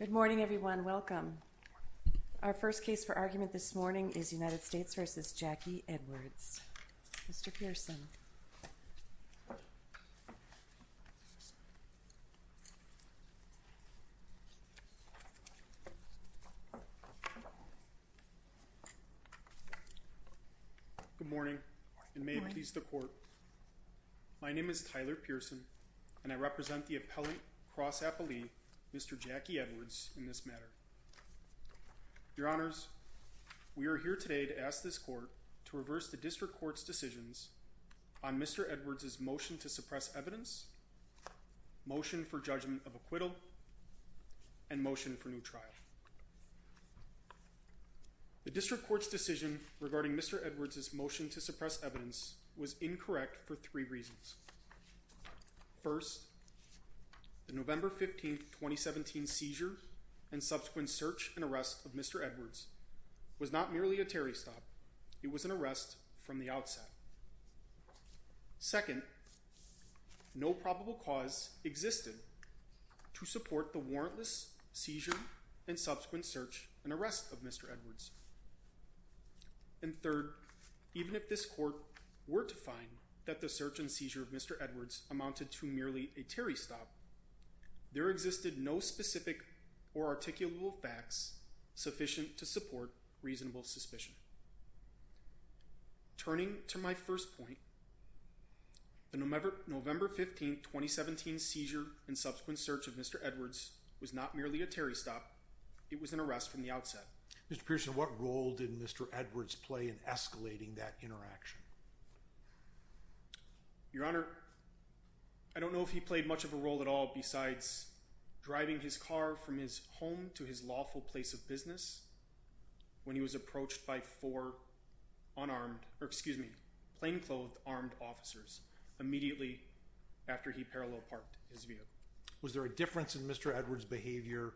Good morning, everyone. Welcome. Our first case for argument this morning is United States v. Jackie Edwards. Mr. Pearson. Good morning, and may it please the Court. My name is Tyler Pearson, and I represent the appellate cross-appellee, Mr. Jackie Edwards, in this matter. Your Honors, we are here today to ask this Court to reverse the District Court's decisions on Mr. Edwards' motion to suppress evidence, motion for judgment of acquittal, and motion for new trial. The District Court's decision regarding Mr. Edwards' motion to suppress evidence was incorrect for three reasons. First, the November 15, 2017 seizure and subsequent search and arrest of Mr. Edwards was not merely a Terry stop. It was an arrest from the outset. Second, no probable cause existed to support the warrantless seizure and subsequent search and arrest of Mr. Edwards. And third, even if this Court were to find that the search and seizure of Mr. Edwards amounted to merely a Terry stop, there existed no specific or articulable facts sufficient to support reasonable suspicion. Turning to my first point, the November 15, 2017 seizure and subsequent search of Mr. Edwards was not merely a Terry stop. It was an arrest from the outset. Mr. Pearson, what role did Mr. Edwards play in escalating that interaction? Your Honor, I don't know if he played much of a role at all besides driving his car from his home to his lawful place of business when he was approached by four plain-clothed armed officers immediately after he parallel parked his vehicle. Was there a difference in Mr. Edwards' behavior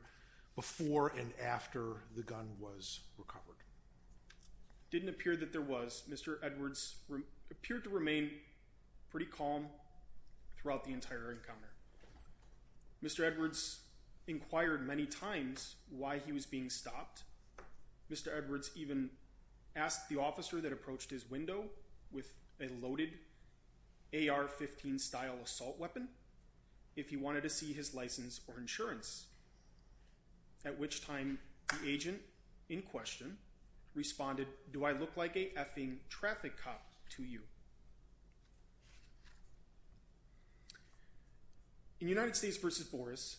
before and after the gun was recovered? Didn't appear that there was. Mr. Edwards appeared to remain pretty calm throughout the entire encounter. Mr. Edwards inquired many times why he was being stopped. Mr. Edwards even asked the officer that approached his window with a loaded AR-15-style assault weapon if he wanted to see his license or insurance, at which time the agent in question responded, Do I look like a effing traffic cop to you? In United States v. Boris,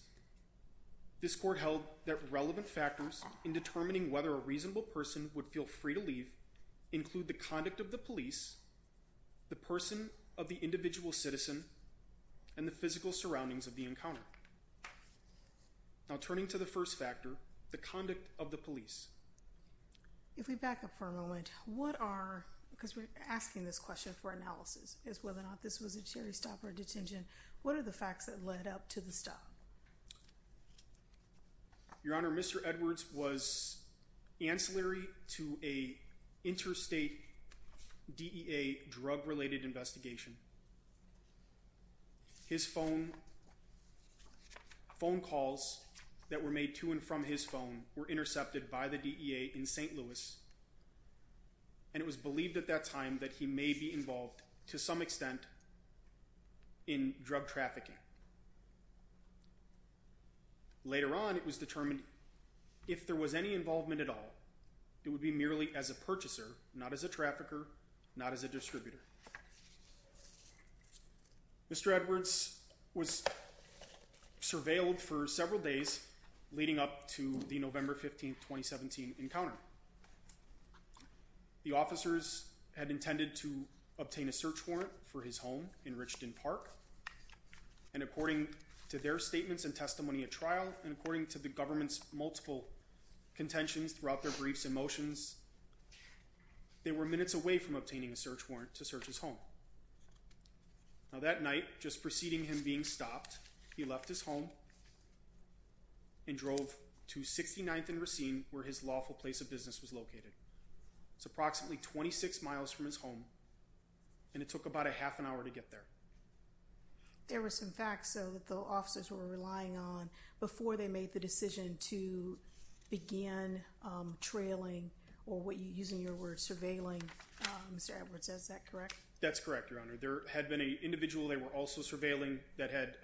this court held that relevant factors in determining whether a reasonable person would feel free to leave include the conduct of the police, the person of the individual citizen, and the physical surroundings of the encounter. Now turning to the first factor, the conduct of the police. If we back up for a moment, what are, because we're asking this question for analysis, is whether or not this was a cherry-stopper detention, what are the facts that led up to the stop? Your Honor, Mr. Edwards was ancillary to an interstate DEA drug-related investigation. His phone calls that were made to and from his phone were intercepted by the DEA in St. Louis, and it was believed at that time that he may be involved, to some extent, in drug trafficking. Later on, it was determined if there was any involvement at all, it would be merely as a purchaser, not as a trafficker, not as a distributor. Mr. Edwards was surveilled for several days leading up to the November 15, 2017 encounter. The officers had intended to obtain a search warrant for his home in Richland Park, and according to their statements and testimony at trial, and according to the government's multiple contentions throughout their briefs and motions, they were minutes away from obtaining a search warrant to search his home. Now that night, just preceding him being stopped, he left his home and drove to 69th and Racine, where his lawful place of business was located. It's approximately 26 miles from his home, and it took about a half an hour to get there. There were some facts, though, that the officers were relying on before they made the decision to begin trailing, or using your word, surveilling Mr. Edwards. Is that correct? That's correct, Your Honor. There had been an individual they were also surveilling that had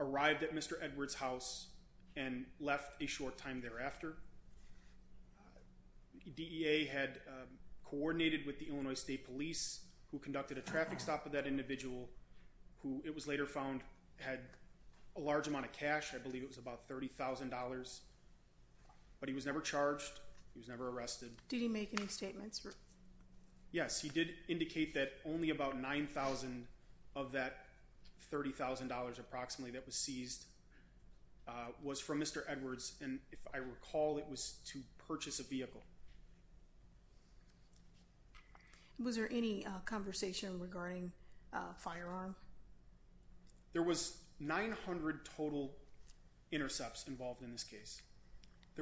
arrived at Mr. Edwards' house and left a short time thereafter. DEA had coordinated with the Illinois State Police, who conducted a traffic stop of that individual, who it was later found had a large amount of cash. I believe it was about $30,000, but he was never charged. He was never arrested. Did he make any statements? Yes, he did indicate that only about $9,000 of that $30,000 approximately that was seized was from Mr. Edwards, and if I recall, it was to purchase a vehicle. Was there any conversation regarding a firearm? There was 900 total intercepts involved in this case.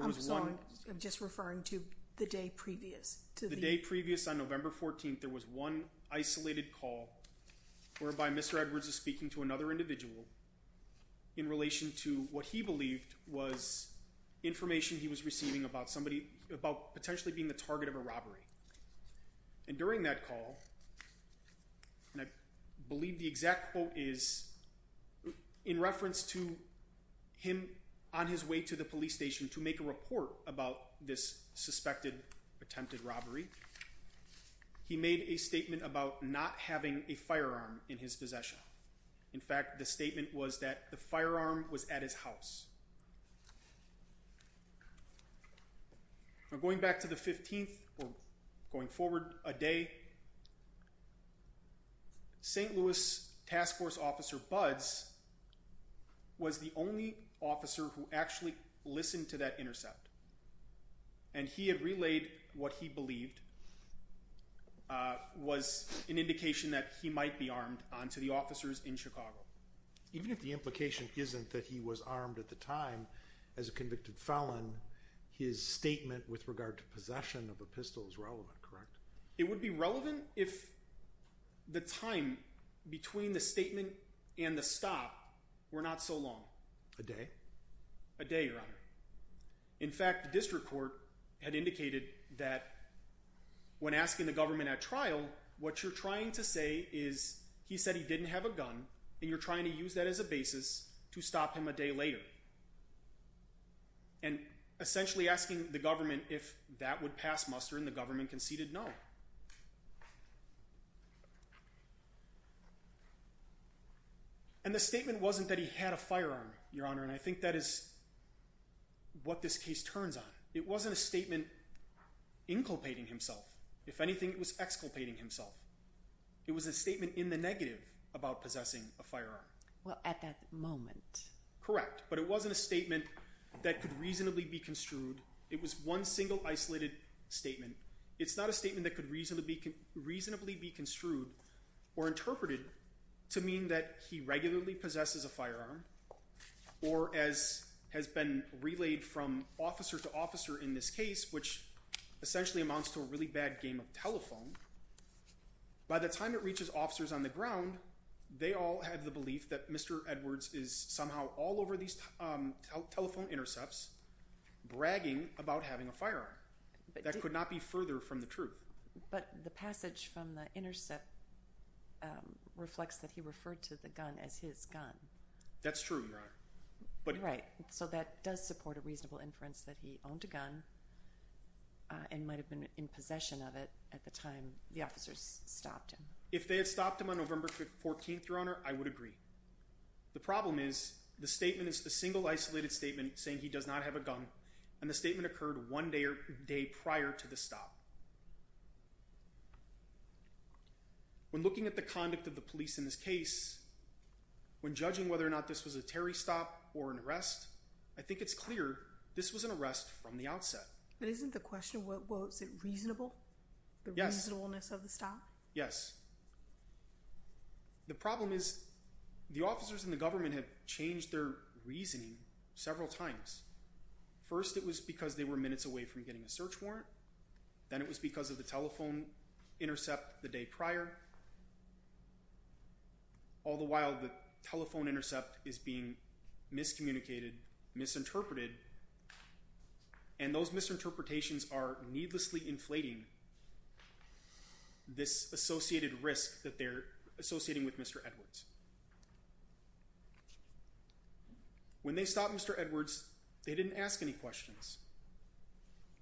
I'm sorry, I'm just referring to the day previous. The day previous, on November 14th, there was one isolated call whereby Mr. Edwards was speaking to another individual in relation to what he believed was information he was receiving about potentially being the target of a robbery. And during that call, and I believe the exact quote is in reference to him on his way to the police station to make a report about this suspected attempted robbery, he made a statement about not having a firearm in his possession. In fact, the statement was that the firearm was at his house. Now going back to the 15th, or going forward a day, St. Louis Task Force Officer Buds was the only officer who actually listened to that intercept, and he had relayed what he believed was an indication that he might be armed onto the officers in Chicago. Even if the implication isn't that he was armed at the time as a convicted felon, his statement with regard to possession of a pistol is relevant, correct? It would be relevant if the time between the statement and the stop were not so long. A day? A day, Your Honor. In fact, the district court had indicated that when asking the government at trial, what you're trying to say is he said he didn't have a gun, and you're trying to use that as a basis to stop him a day later. And essentially asking the government if that would pass muster, and the government conceded no. And the statement wasn't that he had a firearm, Your Honor, and I think that is what this case turns on. It wasn't a statement inculpating himself. If anything, it was exculpating himself. It was a statement in the negative about possessing a firearm. Well, at that moment. Correct, but it wasn't a statement that could reasonably be construed. It was one single, isolated statement. It's not a statement that could reasonably be construed or interpreted to mean that he regularly possesses a firearm, or as has been relayed from officer to officer in this case, which essentially amounts to a really bad game of telephone. By the time it reaches officers on the ground, they all have the belief that Mr. Edwards is somehow all over these telephone intercepts bragging about having a firearm. That could not be further from the truth. But the passage from the intercept reflects that he referred to the gun as his gun. That's true, Your Honor. Right, so that does support a reasonable inference that he owned a gun and might have been in possession of it at the time the officers stopped him. If they had stopped him on November 14th, Your Honor, I would agree. The problem is the statement is a single, isolated statement saying he does not have a gun, and the statement occurred one day prior to the stop. When looking at the conduct of the police in this case, when judging whether or not this was a Terry stop or an arrest, I think it's clear this was an arrest from the outset. But isn't the question, was it reasonable? Yes. The reasonableness of the stop? Yes. The problem is the officers and the government have changed their reasoning several times. First, it was because they were minutes away from getting a search warrant. Then it was because of the telephone intercept the day prior. All the while, the telephone intercept is being miscommunicated, misinterpreted, and those misinterpretations are needlessly inflating this associated risk that they're associating with Mr. Edwards. When they stopped Mr. Edwards, they didn't ask any questions.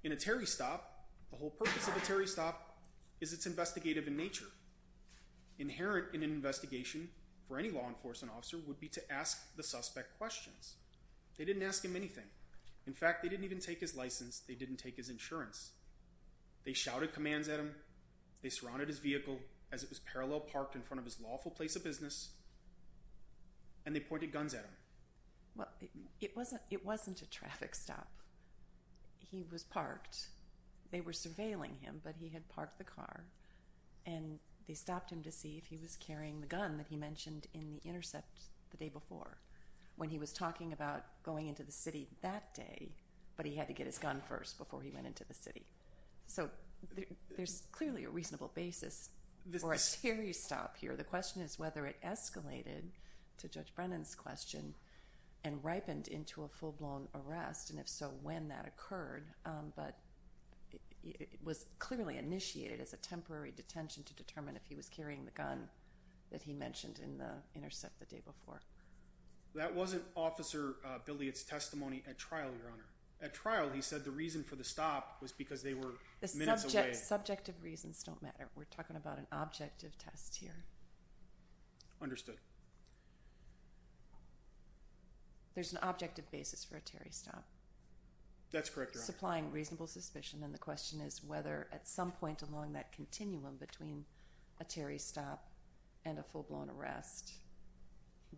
In a Terry stop, the whole purpose of a Terry stop is it's investigative in nature. Inherent in an investigation for any law enforcement officer would be to ask the suspect questions. They didn't ask him anything. In fact, they didn't even take his license. They didn't take his insurance. They shouted commands at him. They surrounded his vehicle as it was parallel parked in front of his lawful place of business. And they pointed guns at him. Well, it wasn't a traffic stop. He was parked. They were surveilling him, but he had parked the car. And they stopped him to see if he was carrying the gun that he mentioned in the intercept the day before when he was talking about going into the city that day. But he had to get his gun first before he went into the city. So there's clearly a reasonable basis for a Terry stop here. The question is whether it escalated to Judge Brennan's question and ripened into a full-blown arrest, and if so, when that occurred. But it was clearly initiated as a temporary detention to determine if he was carrying the gun that he mentioned in the intercept the day before. That wasn't Officer Billiott's testimony at trial, Your Honor. At trial, he said the reason for the stop was because they were minutes away. Subjective reasons don't matter. We're talking about an objective test here. Understood. There's an objective basis for a Terry stop. That's correct, Your Honor. Supplying reasonable suspicion. And the question is whether at some point along that continuum between a Terry stop and a full-blown arrest,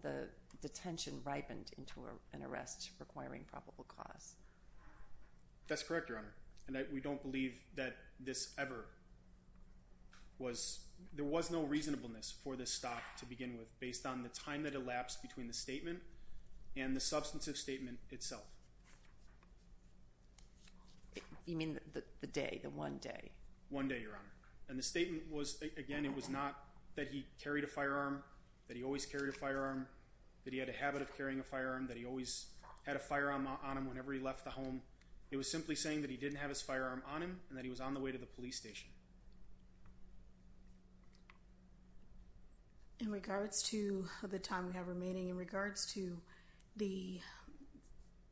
the detention ripened into an arrest requiring probable cause. That's correct, Your Honor. And we don't believe that this ever was – there was no reasonableness for this stop to begin with based on the time that elapsed between the statement and the substantive statement itself. You mean the day, the one day? One day, Your Honor. And the statement was, again, it was not that he carried a firearm, that he always carried a firearm, that he had a habit of carrying a firearm, that he always had a firearm on him whenever he left the home. It was simply saying that he didn't have his firearm on him and that he was on the way to the police station. In regards to the time we have remaining, in regards to the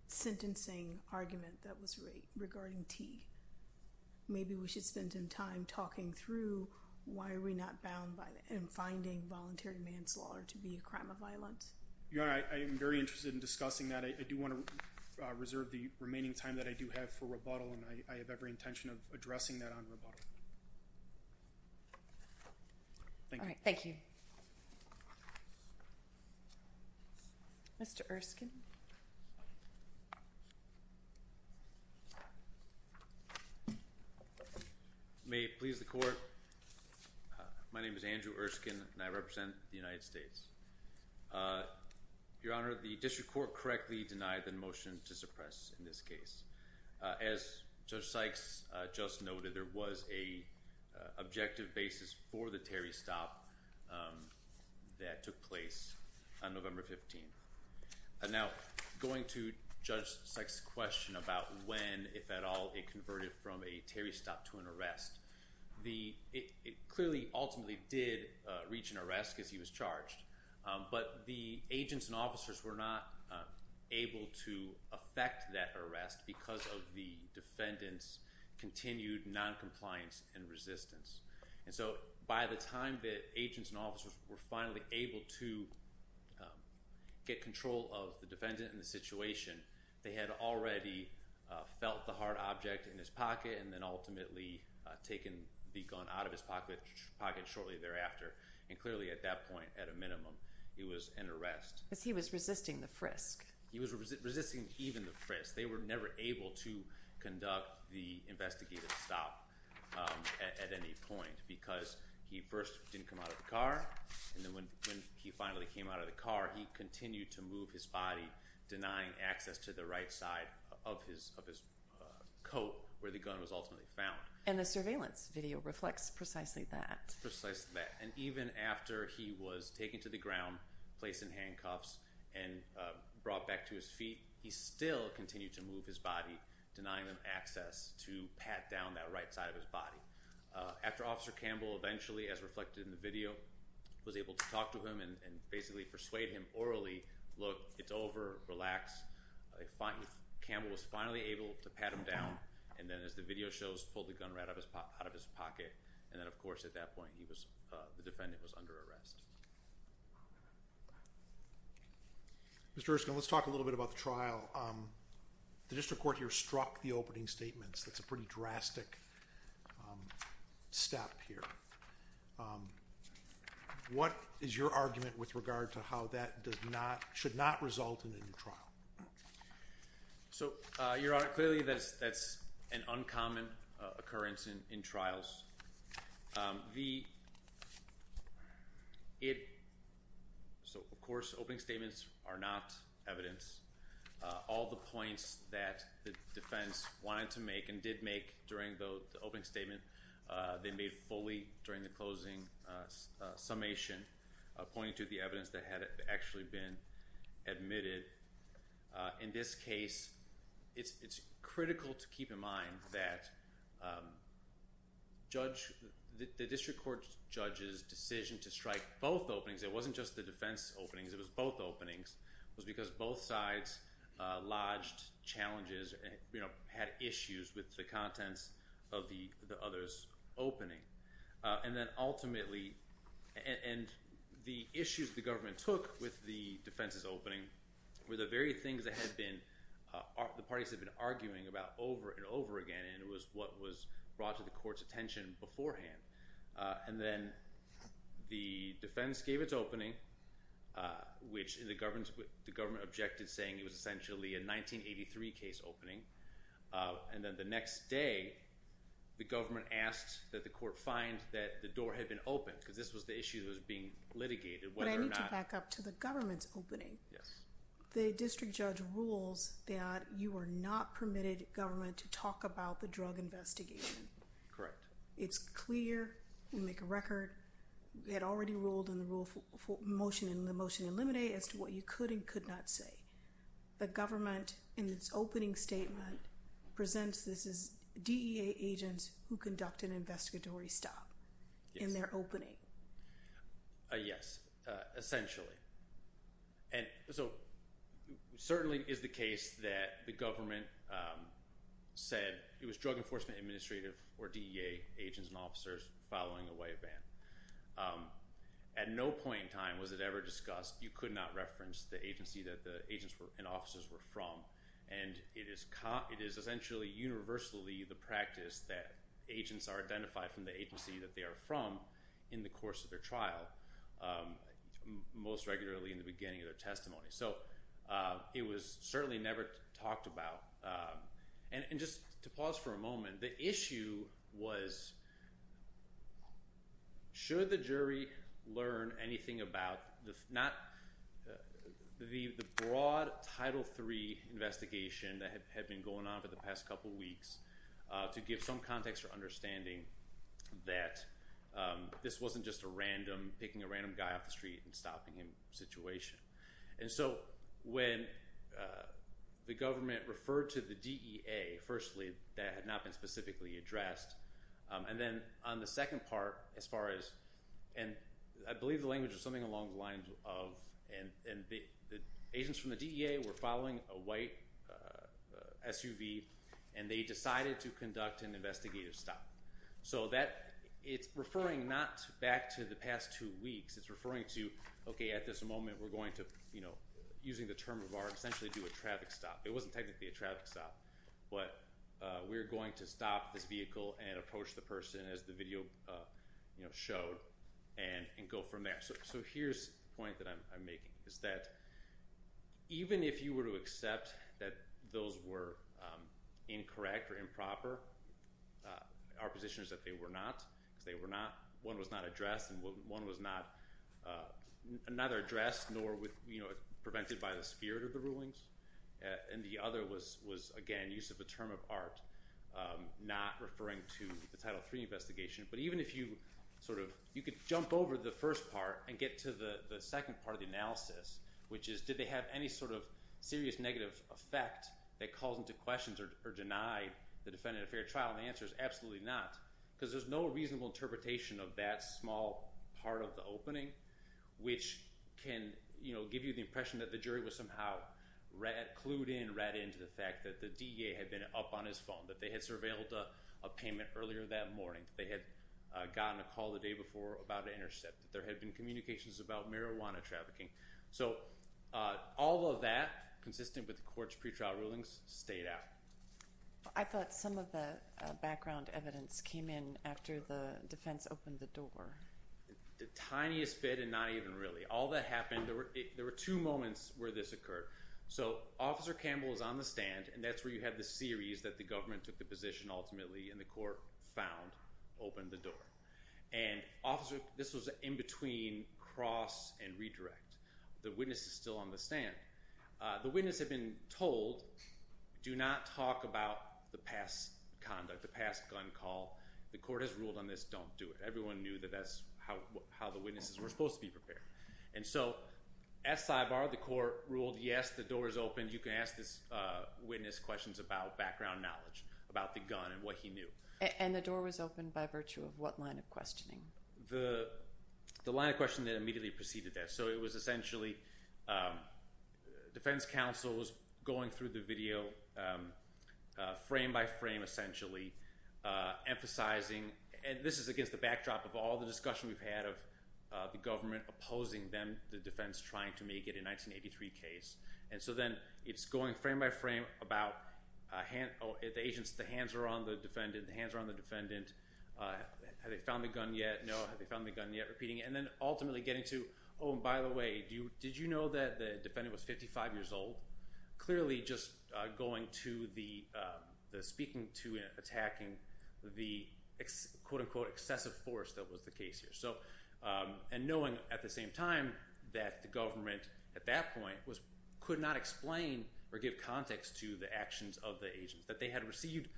sentencing argument that was regarding T, maybe we should spend some time talking through why are we not bound and finding voluntary manslaughter to be a crime of violence. Your Honor, I am very interested in discussing that. I do want to reserve the remaining time that I do have for rebuttal, and I have every intention of addressing that on rebuttal. Thank you. All right, thank you. Mr. Erskine. May it please the Court, my name is Andrew Erskine, and I represent the United States. Your Honor, the District Court correctly denied the motion to suppress in this case. As Judge Sykes just noted, there was an objective basis for the Terry stop that took place on November 15th. Now, going to Judge Sykes' question about when, if at all, it converted from a Terry stop to an arrest, it clearly ultimately did reach an arrest because he was charged. But the agents and officers were not able to affect that arrest because of the defendant's continued noncompliance and resistance. And so by the time that agents and officers were finally able to get control of the defendant and the situation, they had already felt the hard object in his pocket and then ultimately taken the gun out of his pocket shortly thereafter. And clearly at that point, at a minimum, it was an arrest. Because he was resisting the frisk. He was resisting even the frisk. They were never able to conduct the investigative stop at any point because he first didn't come out of the car. And then when he finally came out of the car, he continued to move his body, denying access to the right side of his coat where the gun was ultimately found. And the surveillance video reflects precisely that. Precisely that. And even after he was taken to the ground, placed in handcuffs, and brought back to his feet, he still continued to move his body, denying them access to pat down that right side of his body. After Officer Campbell eventually, as reflected in the video, was able to talk to him and basically persuade him orally, look, it's over, relax. Campbell was finally able to pat him down. And then as the video shows, pulled the gun right out of his pocket. And then of course at that point, the defendant was under arrest. Mr. Erskine, let's talk a little bit about the trial. The district court here struck the opening statements. That's a pretty drastic step here. What is your argument with regard to how that does not, should not result in a new trial? So, Your Honor, clearly that's an uncommon occurrence in trials. The, it, so of course opening statements are not evidence. All the points that the defense wanted to make and did make during the opening statement, they made fully during the closing summation, pointing to the evidence that had actually been admitted. In this case, it's critical to keep in mind that judge, the district court judge's decision to strike both openings, it wasn't just the defense openings, it was both openings, was because both sides lodged challenges, had issues with the contents of the other's opening. And then ultimately, and the issues the government took with the defense's opening were the very things that had been, the parties had been arguing about over and over again. And it was what was brought to the court's attention beforehand. And then the defense gave its opening, which the government objected saying it was essentially a 1983 case opening. And then the next day, the government asked that the court find that the door had been opened, because this was the issue that was being litigated. But I need to back up to the government's opening. Yes. The district judge rules that you are not permitted, government, to talk about the drug investigation. Correct. It's clear. We make a record. We had already ruled in the motion to eliminate as to what you could and could not say. The government, in its opening statement, presents this as DEA agents who conduct an investigatory stop in their opening. Yes. Essentially. And so it certainly is the case that the government said it was Drug Enforcement Administrative, or DEA, agents and officers following away a ban. At no point in time was it ever discussed you could not reference the agency that the agents and officers were from. And it is essentially universally the practice that agents are identified from the agency that they are from in the course of their trial. Most regularly in the beginning of their testimony. So it was certainly never talked about. And just to pause for a moment, the issue was should the jury learn anything about the broad Title III investigation that had been going on for the past couple weeks to give some context or understanding that this wasn't just a random, picking a random guy off the street and stopping him situation. And so when the government referred to the DEA, firstly, that had not been specifically addressed. And then on the second part, as far as, and I believe the language was something along the lines of, and the agents from the DEA were following a white SUV, and they decided to conduct an investigative stop. So that, it's referring not back to the past two weeks, it's referring to, okay, at this moment we're going to, you know, using the term of art, essentially do a traffic stop. It wasn't technically a traffic stop, but we're going to stop this vehicle and approach the person, as the video, you know, showed, and go from there. So here's the point that I'm making, is that even if you were to accept that those were incorrect or improper, our position is that they were not, because they were not, one was not addressed and one was not, neither addressed nor, you know, prevented by the spirit of the rulings. And the other was, again, use of the term of art, not referring to the Title III investigation. But even if you sort of, you could jump over the first part and get to the second part of the analysis, which is did they have any sort of serious negative effect that calls into questions or deny the defendant a fair trial, and the answer is absolutely not, because there's no reasonable interpretation of that small part of the opening, which can, you know, give you the impression that the jury was somehow clued in, read into the fact that the DA had been up on his phone, that they had surveilled a payment earlier that morning, that they had gotten a call the day before about an intercept, that there had been communications about marijuana trafficking. So all of that, consistent with the court's pretrial rulings, stayed out. I thought some of the background evidence came in after the defense opened the door. The tiniest bit and not even really. All that happened – there were two moments where this occurred. So Officer Campbell was on the stand, and that's where you had the series that the government took the position ultimately, and the court found, opened the door. And, Officer, this was in between cross and redirect. The witness is still on the stand. The witness had been told, do not talk about the past conduct, the past gun call. The court has ruled on this. Don't do it. Everyone knew that that's how the witnesses were supposed to be prepared. And so, as sidebar, the court ruled, yes, the door is open. You can ask this witness questions about background knowledge, about the gun and what he knew. And the door was open by virtue of what line of questioning? The line of questioning that immediately preceded that. So it was essentially defense counsels going through the video frame by frame, essentially, emphasizing – and this is against the backdrop of all the discussion we've had of the government opposing them, the defense trying to make it a 1983 case. And so then it's going frame by frame about the agents, the hands are on the defendant, the hands are on the defendant. Have they found the gun yet? No. Have they found the gun yet? Repeating it. And then ultimately getting to, oh, and by the way, did you know that the defendant was 55 years old? Clearly just going to the – speaking to and attacking the, quote-unquote, excessive force that was the case here. And knowing at the same time that the government at that point could not explain or give context to the actions of the agents, that they had received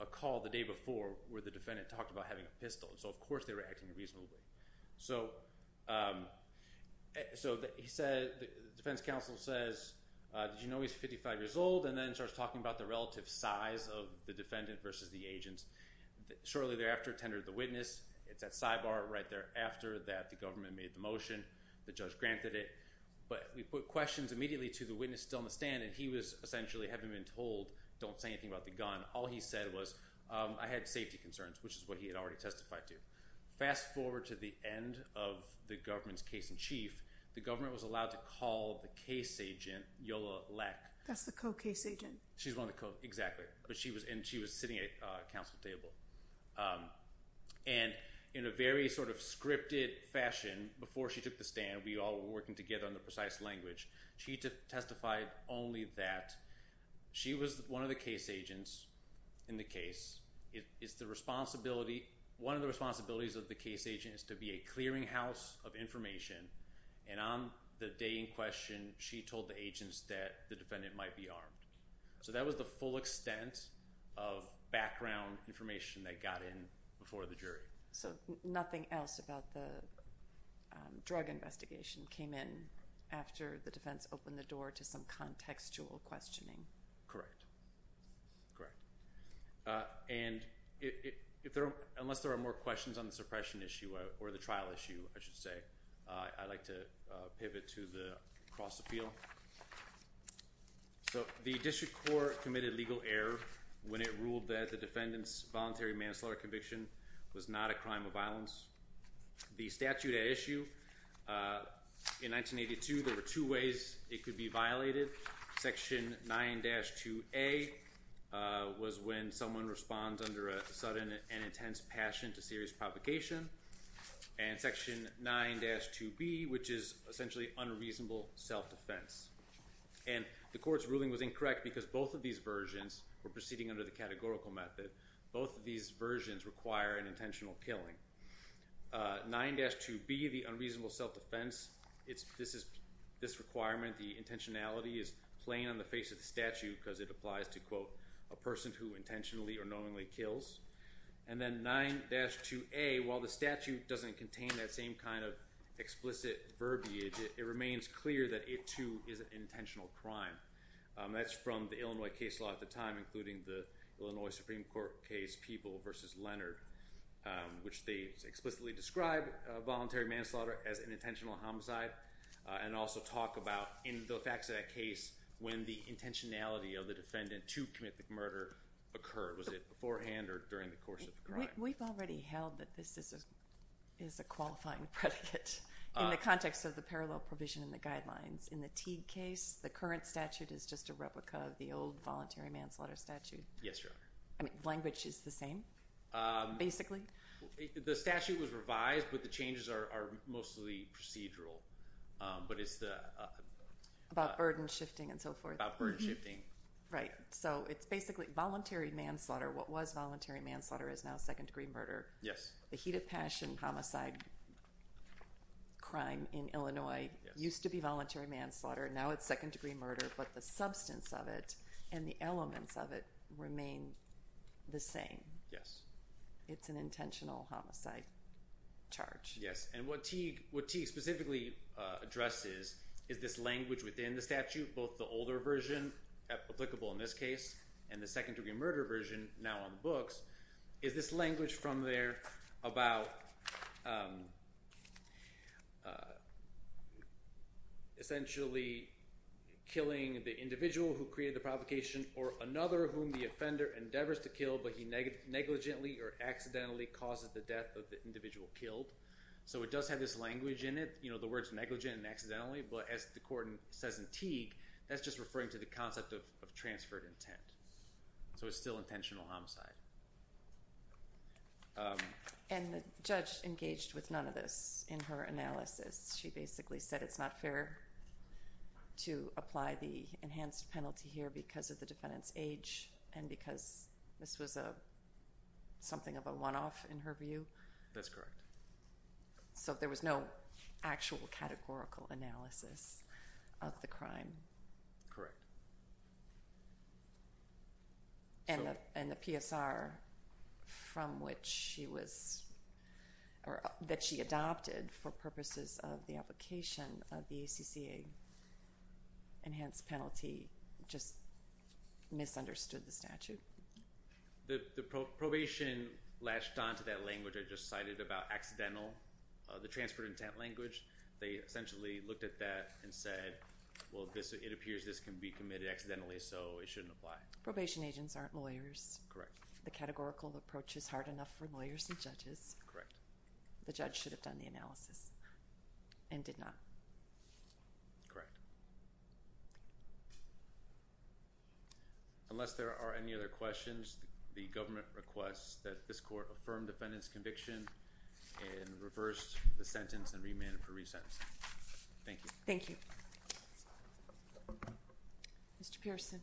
a call the day before where the defendant talked about having a pistol. So, of course, they were acting reasonably. So he said – the defense counsel says, did you know he's 55 years old? And then starts talking about the relative size of the defendant versus the agents. Shortly thereafter, tendered the witness. It's that sidebar right there after that the government made the motion. The judge granted it. But we put questions immediately to the witness still in the stand, and he was essentially having been told, don't say anything about the gun. All he said was, I had safety concerns, which is what he had already testified to. Fast forward to the end of the government's case in chief. The government was allowed to call the case agent, Yola Leck. That's the co-case agent. She's one of the – exactly. And she was sitting at a council table. And in a very sort of scripted fashion, before she took the stand, we all were working together on the precise language. She testified only that she was one of the case agents in the case. It's the responsibility – one of the responsibilities of the case agent is to be a clearinghouse of information. And on the day in question, she told the agents that the defendant might be armed. So that was the full extent of background information that got in before the jury. So nothing else about the drug investigation came in after the defense opened the door to some contextual questioning. Correct. And unless there are more questions on the suppression issue or the trial issue, I should say, I'd like to pivot to the cross-appeal. So the district court committed legal error when it ruled that the defendant's voluntary manslaughter conviction was not a crime of violence. The statute at issue in 1982, there were two ways it could be violated. Section 9-2A was when someone responds under a sudden and intense passion to serious provocation. And Section 9-2B, which is essentially unreasonable self-defense. And the court's ruling was incorrect because both of these versions were proceeding under the categorical method. Both of these versions require an intentional killing. 9-2B, the unreasonable self-defense, this requirement, the intentionality is plain on the face of the statute because it applies to, quote, a person who intentionally or knowingly kills. And then 9-2A, while the statute doesn't contain that same kind of explicit verbiage, it remains clear that it, too, is an intentional crime. That's from the Illinois case law at the time, including the Illinois Supreme Court case People v. Leonard, which they explicitly describe voluntary manslaughter as an intentional homicide. And also talk about, in the facts of that case, when the intentionality of the defendant to commit the murder occurred. Was it beforehand or during the course of the crime? We've already held that this is a qualifying predicate in the context of the parallel provision in the guidelines. In the Teague case, the current statute is just a replica of the old voluntary manslaughter statute. Yes, Your Honor. I mean, language is the same, basically? The statute was revised, but the changes are mostly procedural. But it's the… About burden shifting and so forth. About burden shifting. Right. So it's basically voluntary manslaughter. What was voluntary manslaughter is now second-degree murder. Yes. The Heat of Passion homicide crime in Illinois used to be voluntary manslaughter. Now it's second-degree murder. But the substance of it and the elements of it remain the same. Yes. It's an intentional homicide charge. Yes. And what Teague specifically addresses is this language within the statute, both the older version, applicable in this case, and the second-degree murder version now on the books, is this language from there about essentially killing the individual who created the provocation or another whom the offender endeavors to kill, but he negligently or accidentally causes the death of the individual killed. So it does have this language in it. You know, the word's negligent and accidentally, but as the court says in Teague, that's just referring to the concept of transferred intent. So it's still intentional homicide. And the judge engaged with none of this in her analysis. She basically said it's not fair to apply the enhanced penalty here because of the defendant's age and because this was something of a one-off in her view. That's correct. So there was no actual categorical analysis of the crime? Correct. And the PSR from which she was or that she adopted for purposes of the application of the ACC enhanced penalty just misunderstood the statute? The probation latched onto that language I just cited about accidental, the transferred intent language. They essentially looked at that and said, well, it appears this can be committed accidentally, so it shouldn't apply. Probation agents aren't lawyers. Correct. The categorical approach is hard enough for lawyers and judges. Correct. The judge should have done the analysis and did not. Correct. Unless there are any other questions, the government requests that this court affirm defendant's conviction and reverse the sentence and remand for resentencing. Thank you. Thank you. Mr. Pearson.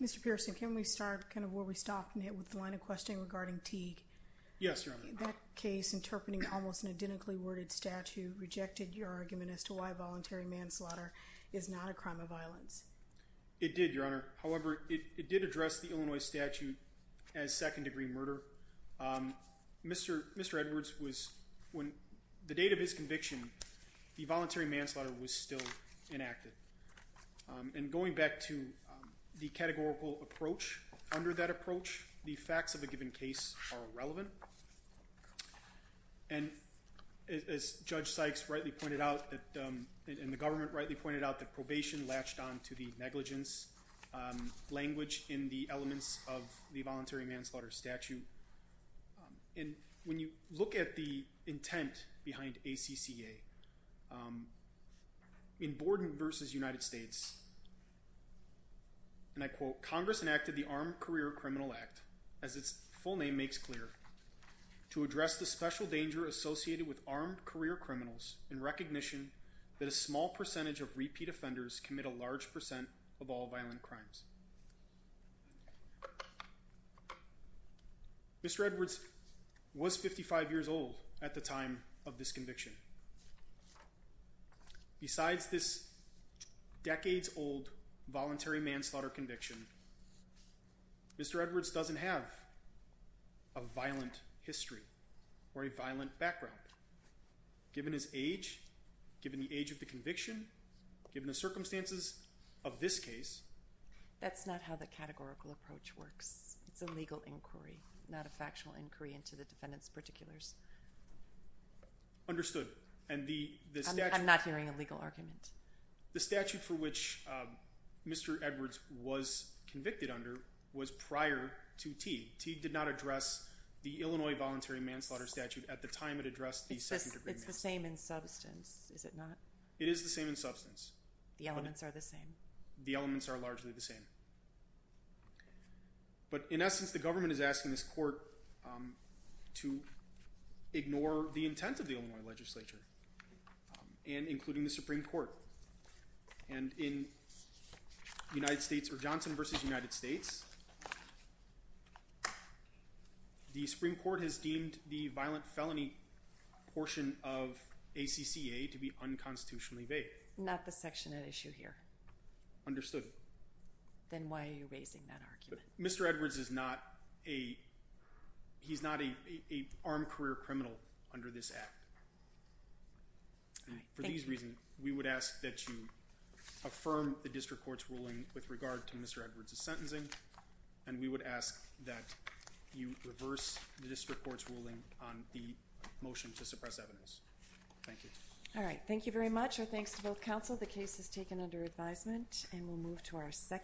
Mr. Pearson, can we start kind of where we stopped and hit with the line of questioning regarding Teague? Yes, Your Honor. That case interpreting almost an identically worded statute rejected your argument as to why voluntary manslaughter is not a crime of violence. It did, Your Honor. However, it did address the Illinois statute as second degree murder. Mr. Edwards was, when the date of his conviction, the voluntary manslaughter was still enacted. And going back to the categorical approach, under that approach, the facts of a given case are irrelevant. And as Judge Sykes rightly pointed out, and the government rightly pointed out, the probation latched on to the negligence language in the elements of the voluntary manslaughter statute. And when you look at the intent behind ACCA, in Borden v. United States, and I quote, Mr. Edwards was 55 years old at the time of this conviction. Besides this decades old voluntary manslaughter conviction, Mr. Edwards doesn't have a violent history or a violent background, given his age, given the age of the conviction, given the circumstances of this case. That's not how the categorical approach works. It's a legal inquiry, not a factual inquiry into the defendant's particulars. Understood. I'm not hearing a legal argument. The statute for which Mr. Edwards was convicted under was prior to Teague. Teague did not address the Illinois voluntary manslaughter statute at the time it addressed the second degree manslaughter. It's the same in substance, is it not? It is the same in substance. The elements are the same. The elements are largely the same. But in essence, the government is asking this court to ignore the intent of the Illinois legislature, and including the Supreme Court. And in United States v. Johnson v. United States, the Supreme Court has deemed the violent felony portion of ACCA to be unconstitutionally vague. Not the section at issue here. Understood. Then why are you raising that argument? Mr. Edwards is not a armed career criminal under this Act. For these reasons, we would ask that you affirm the district court's ruling with regard to Mr. Edwards' sentencing, and we would ask that you reverse the district court's ruling on the motion to suppress evidence. Thank you. All right. Thank you very much. Our thanks to both counsel. The case is taken under advisement, and we'll move to our second hearing.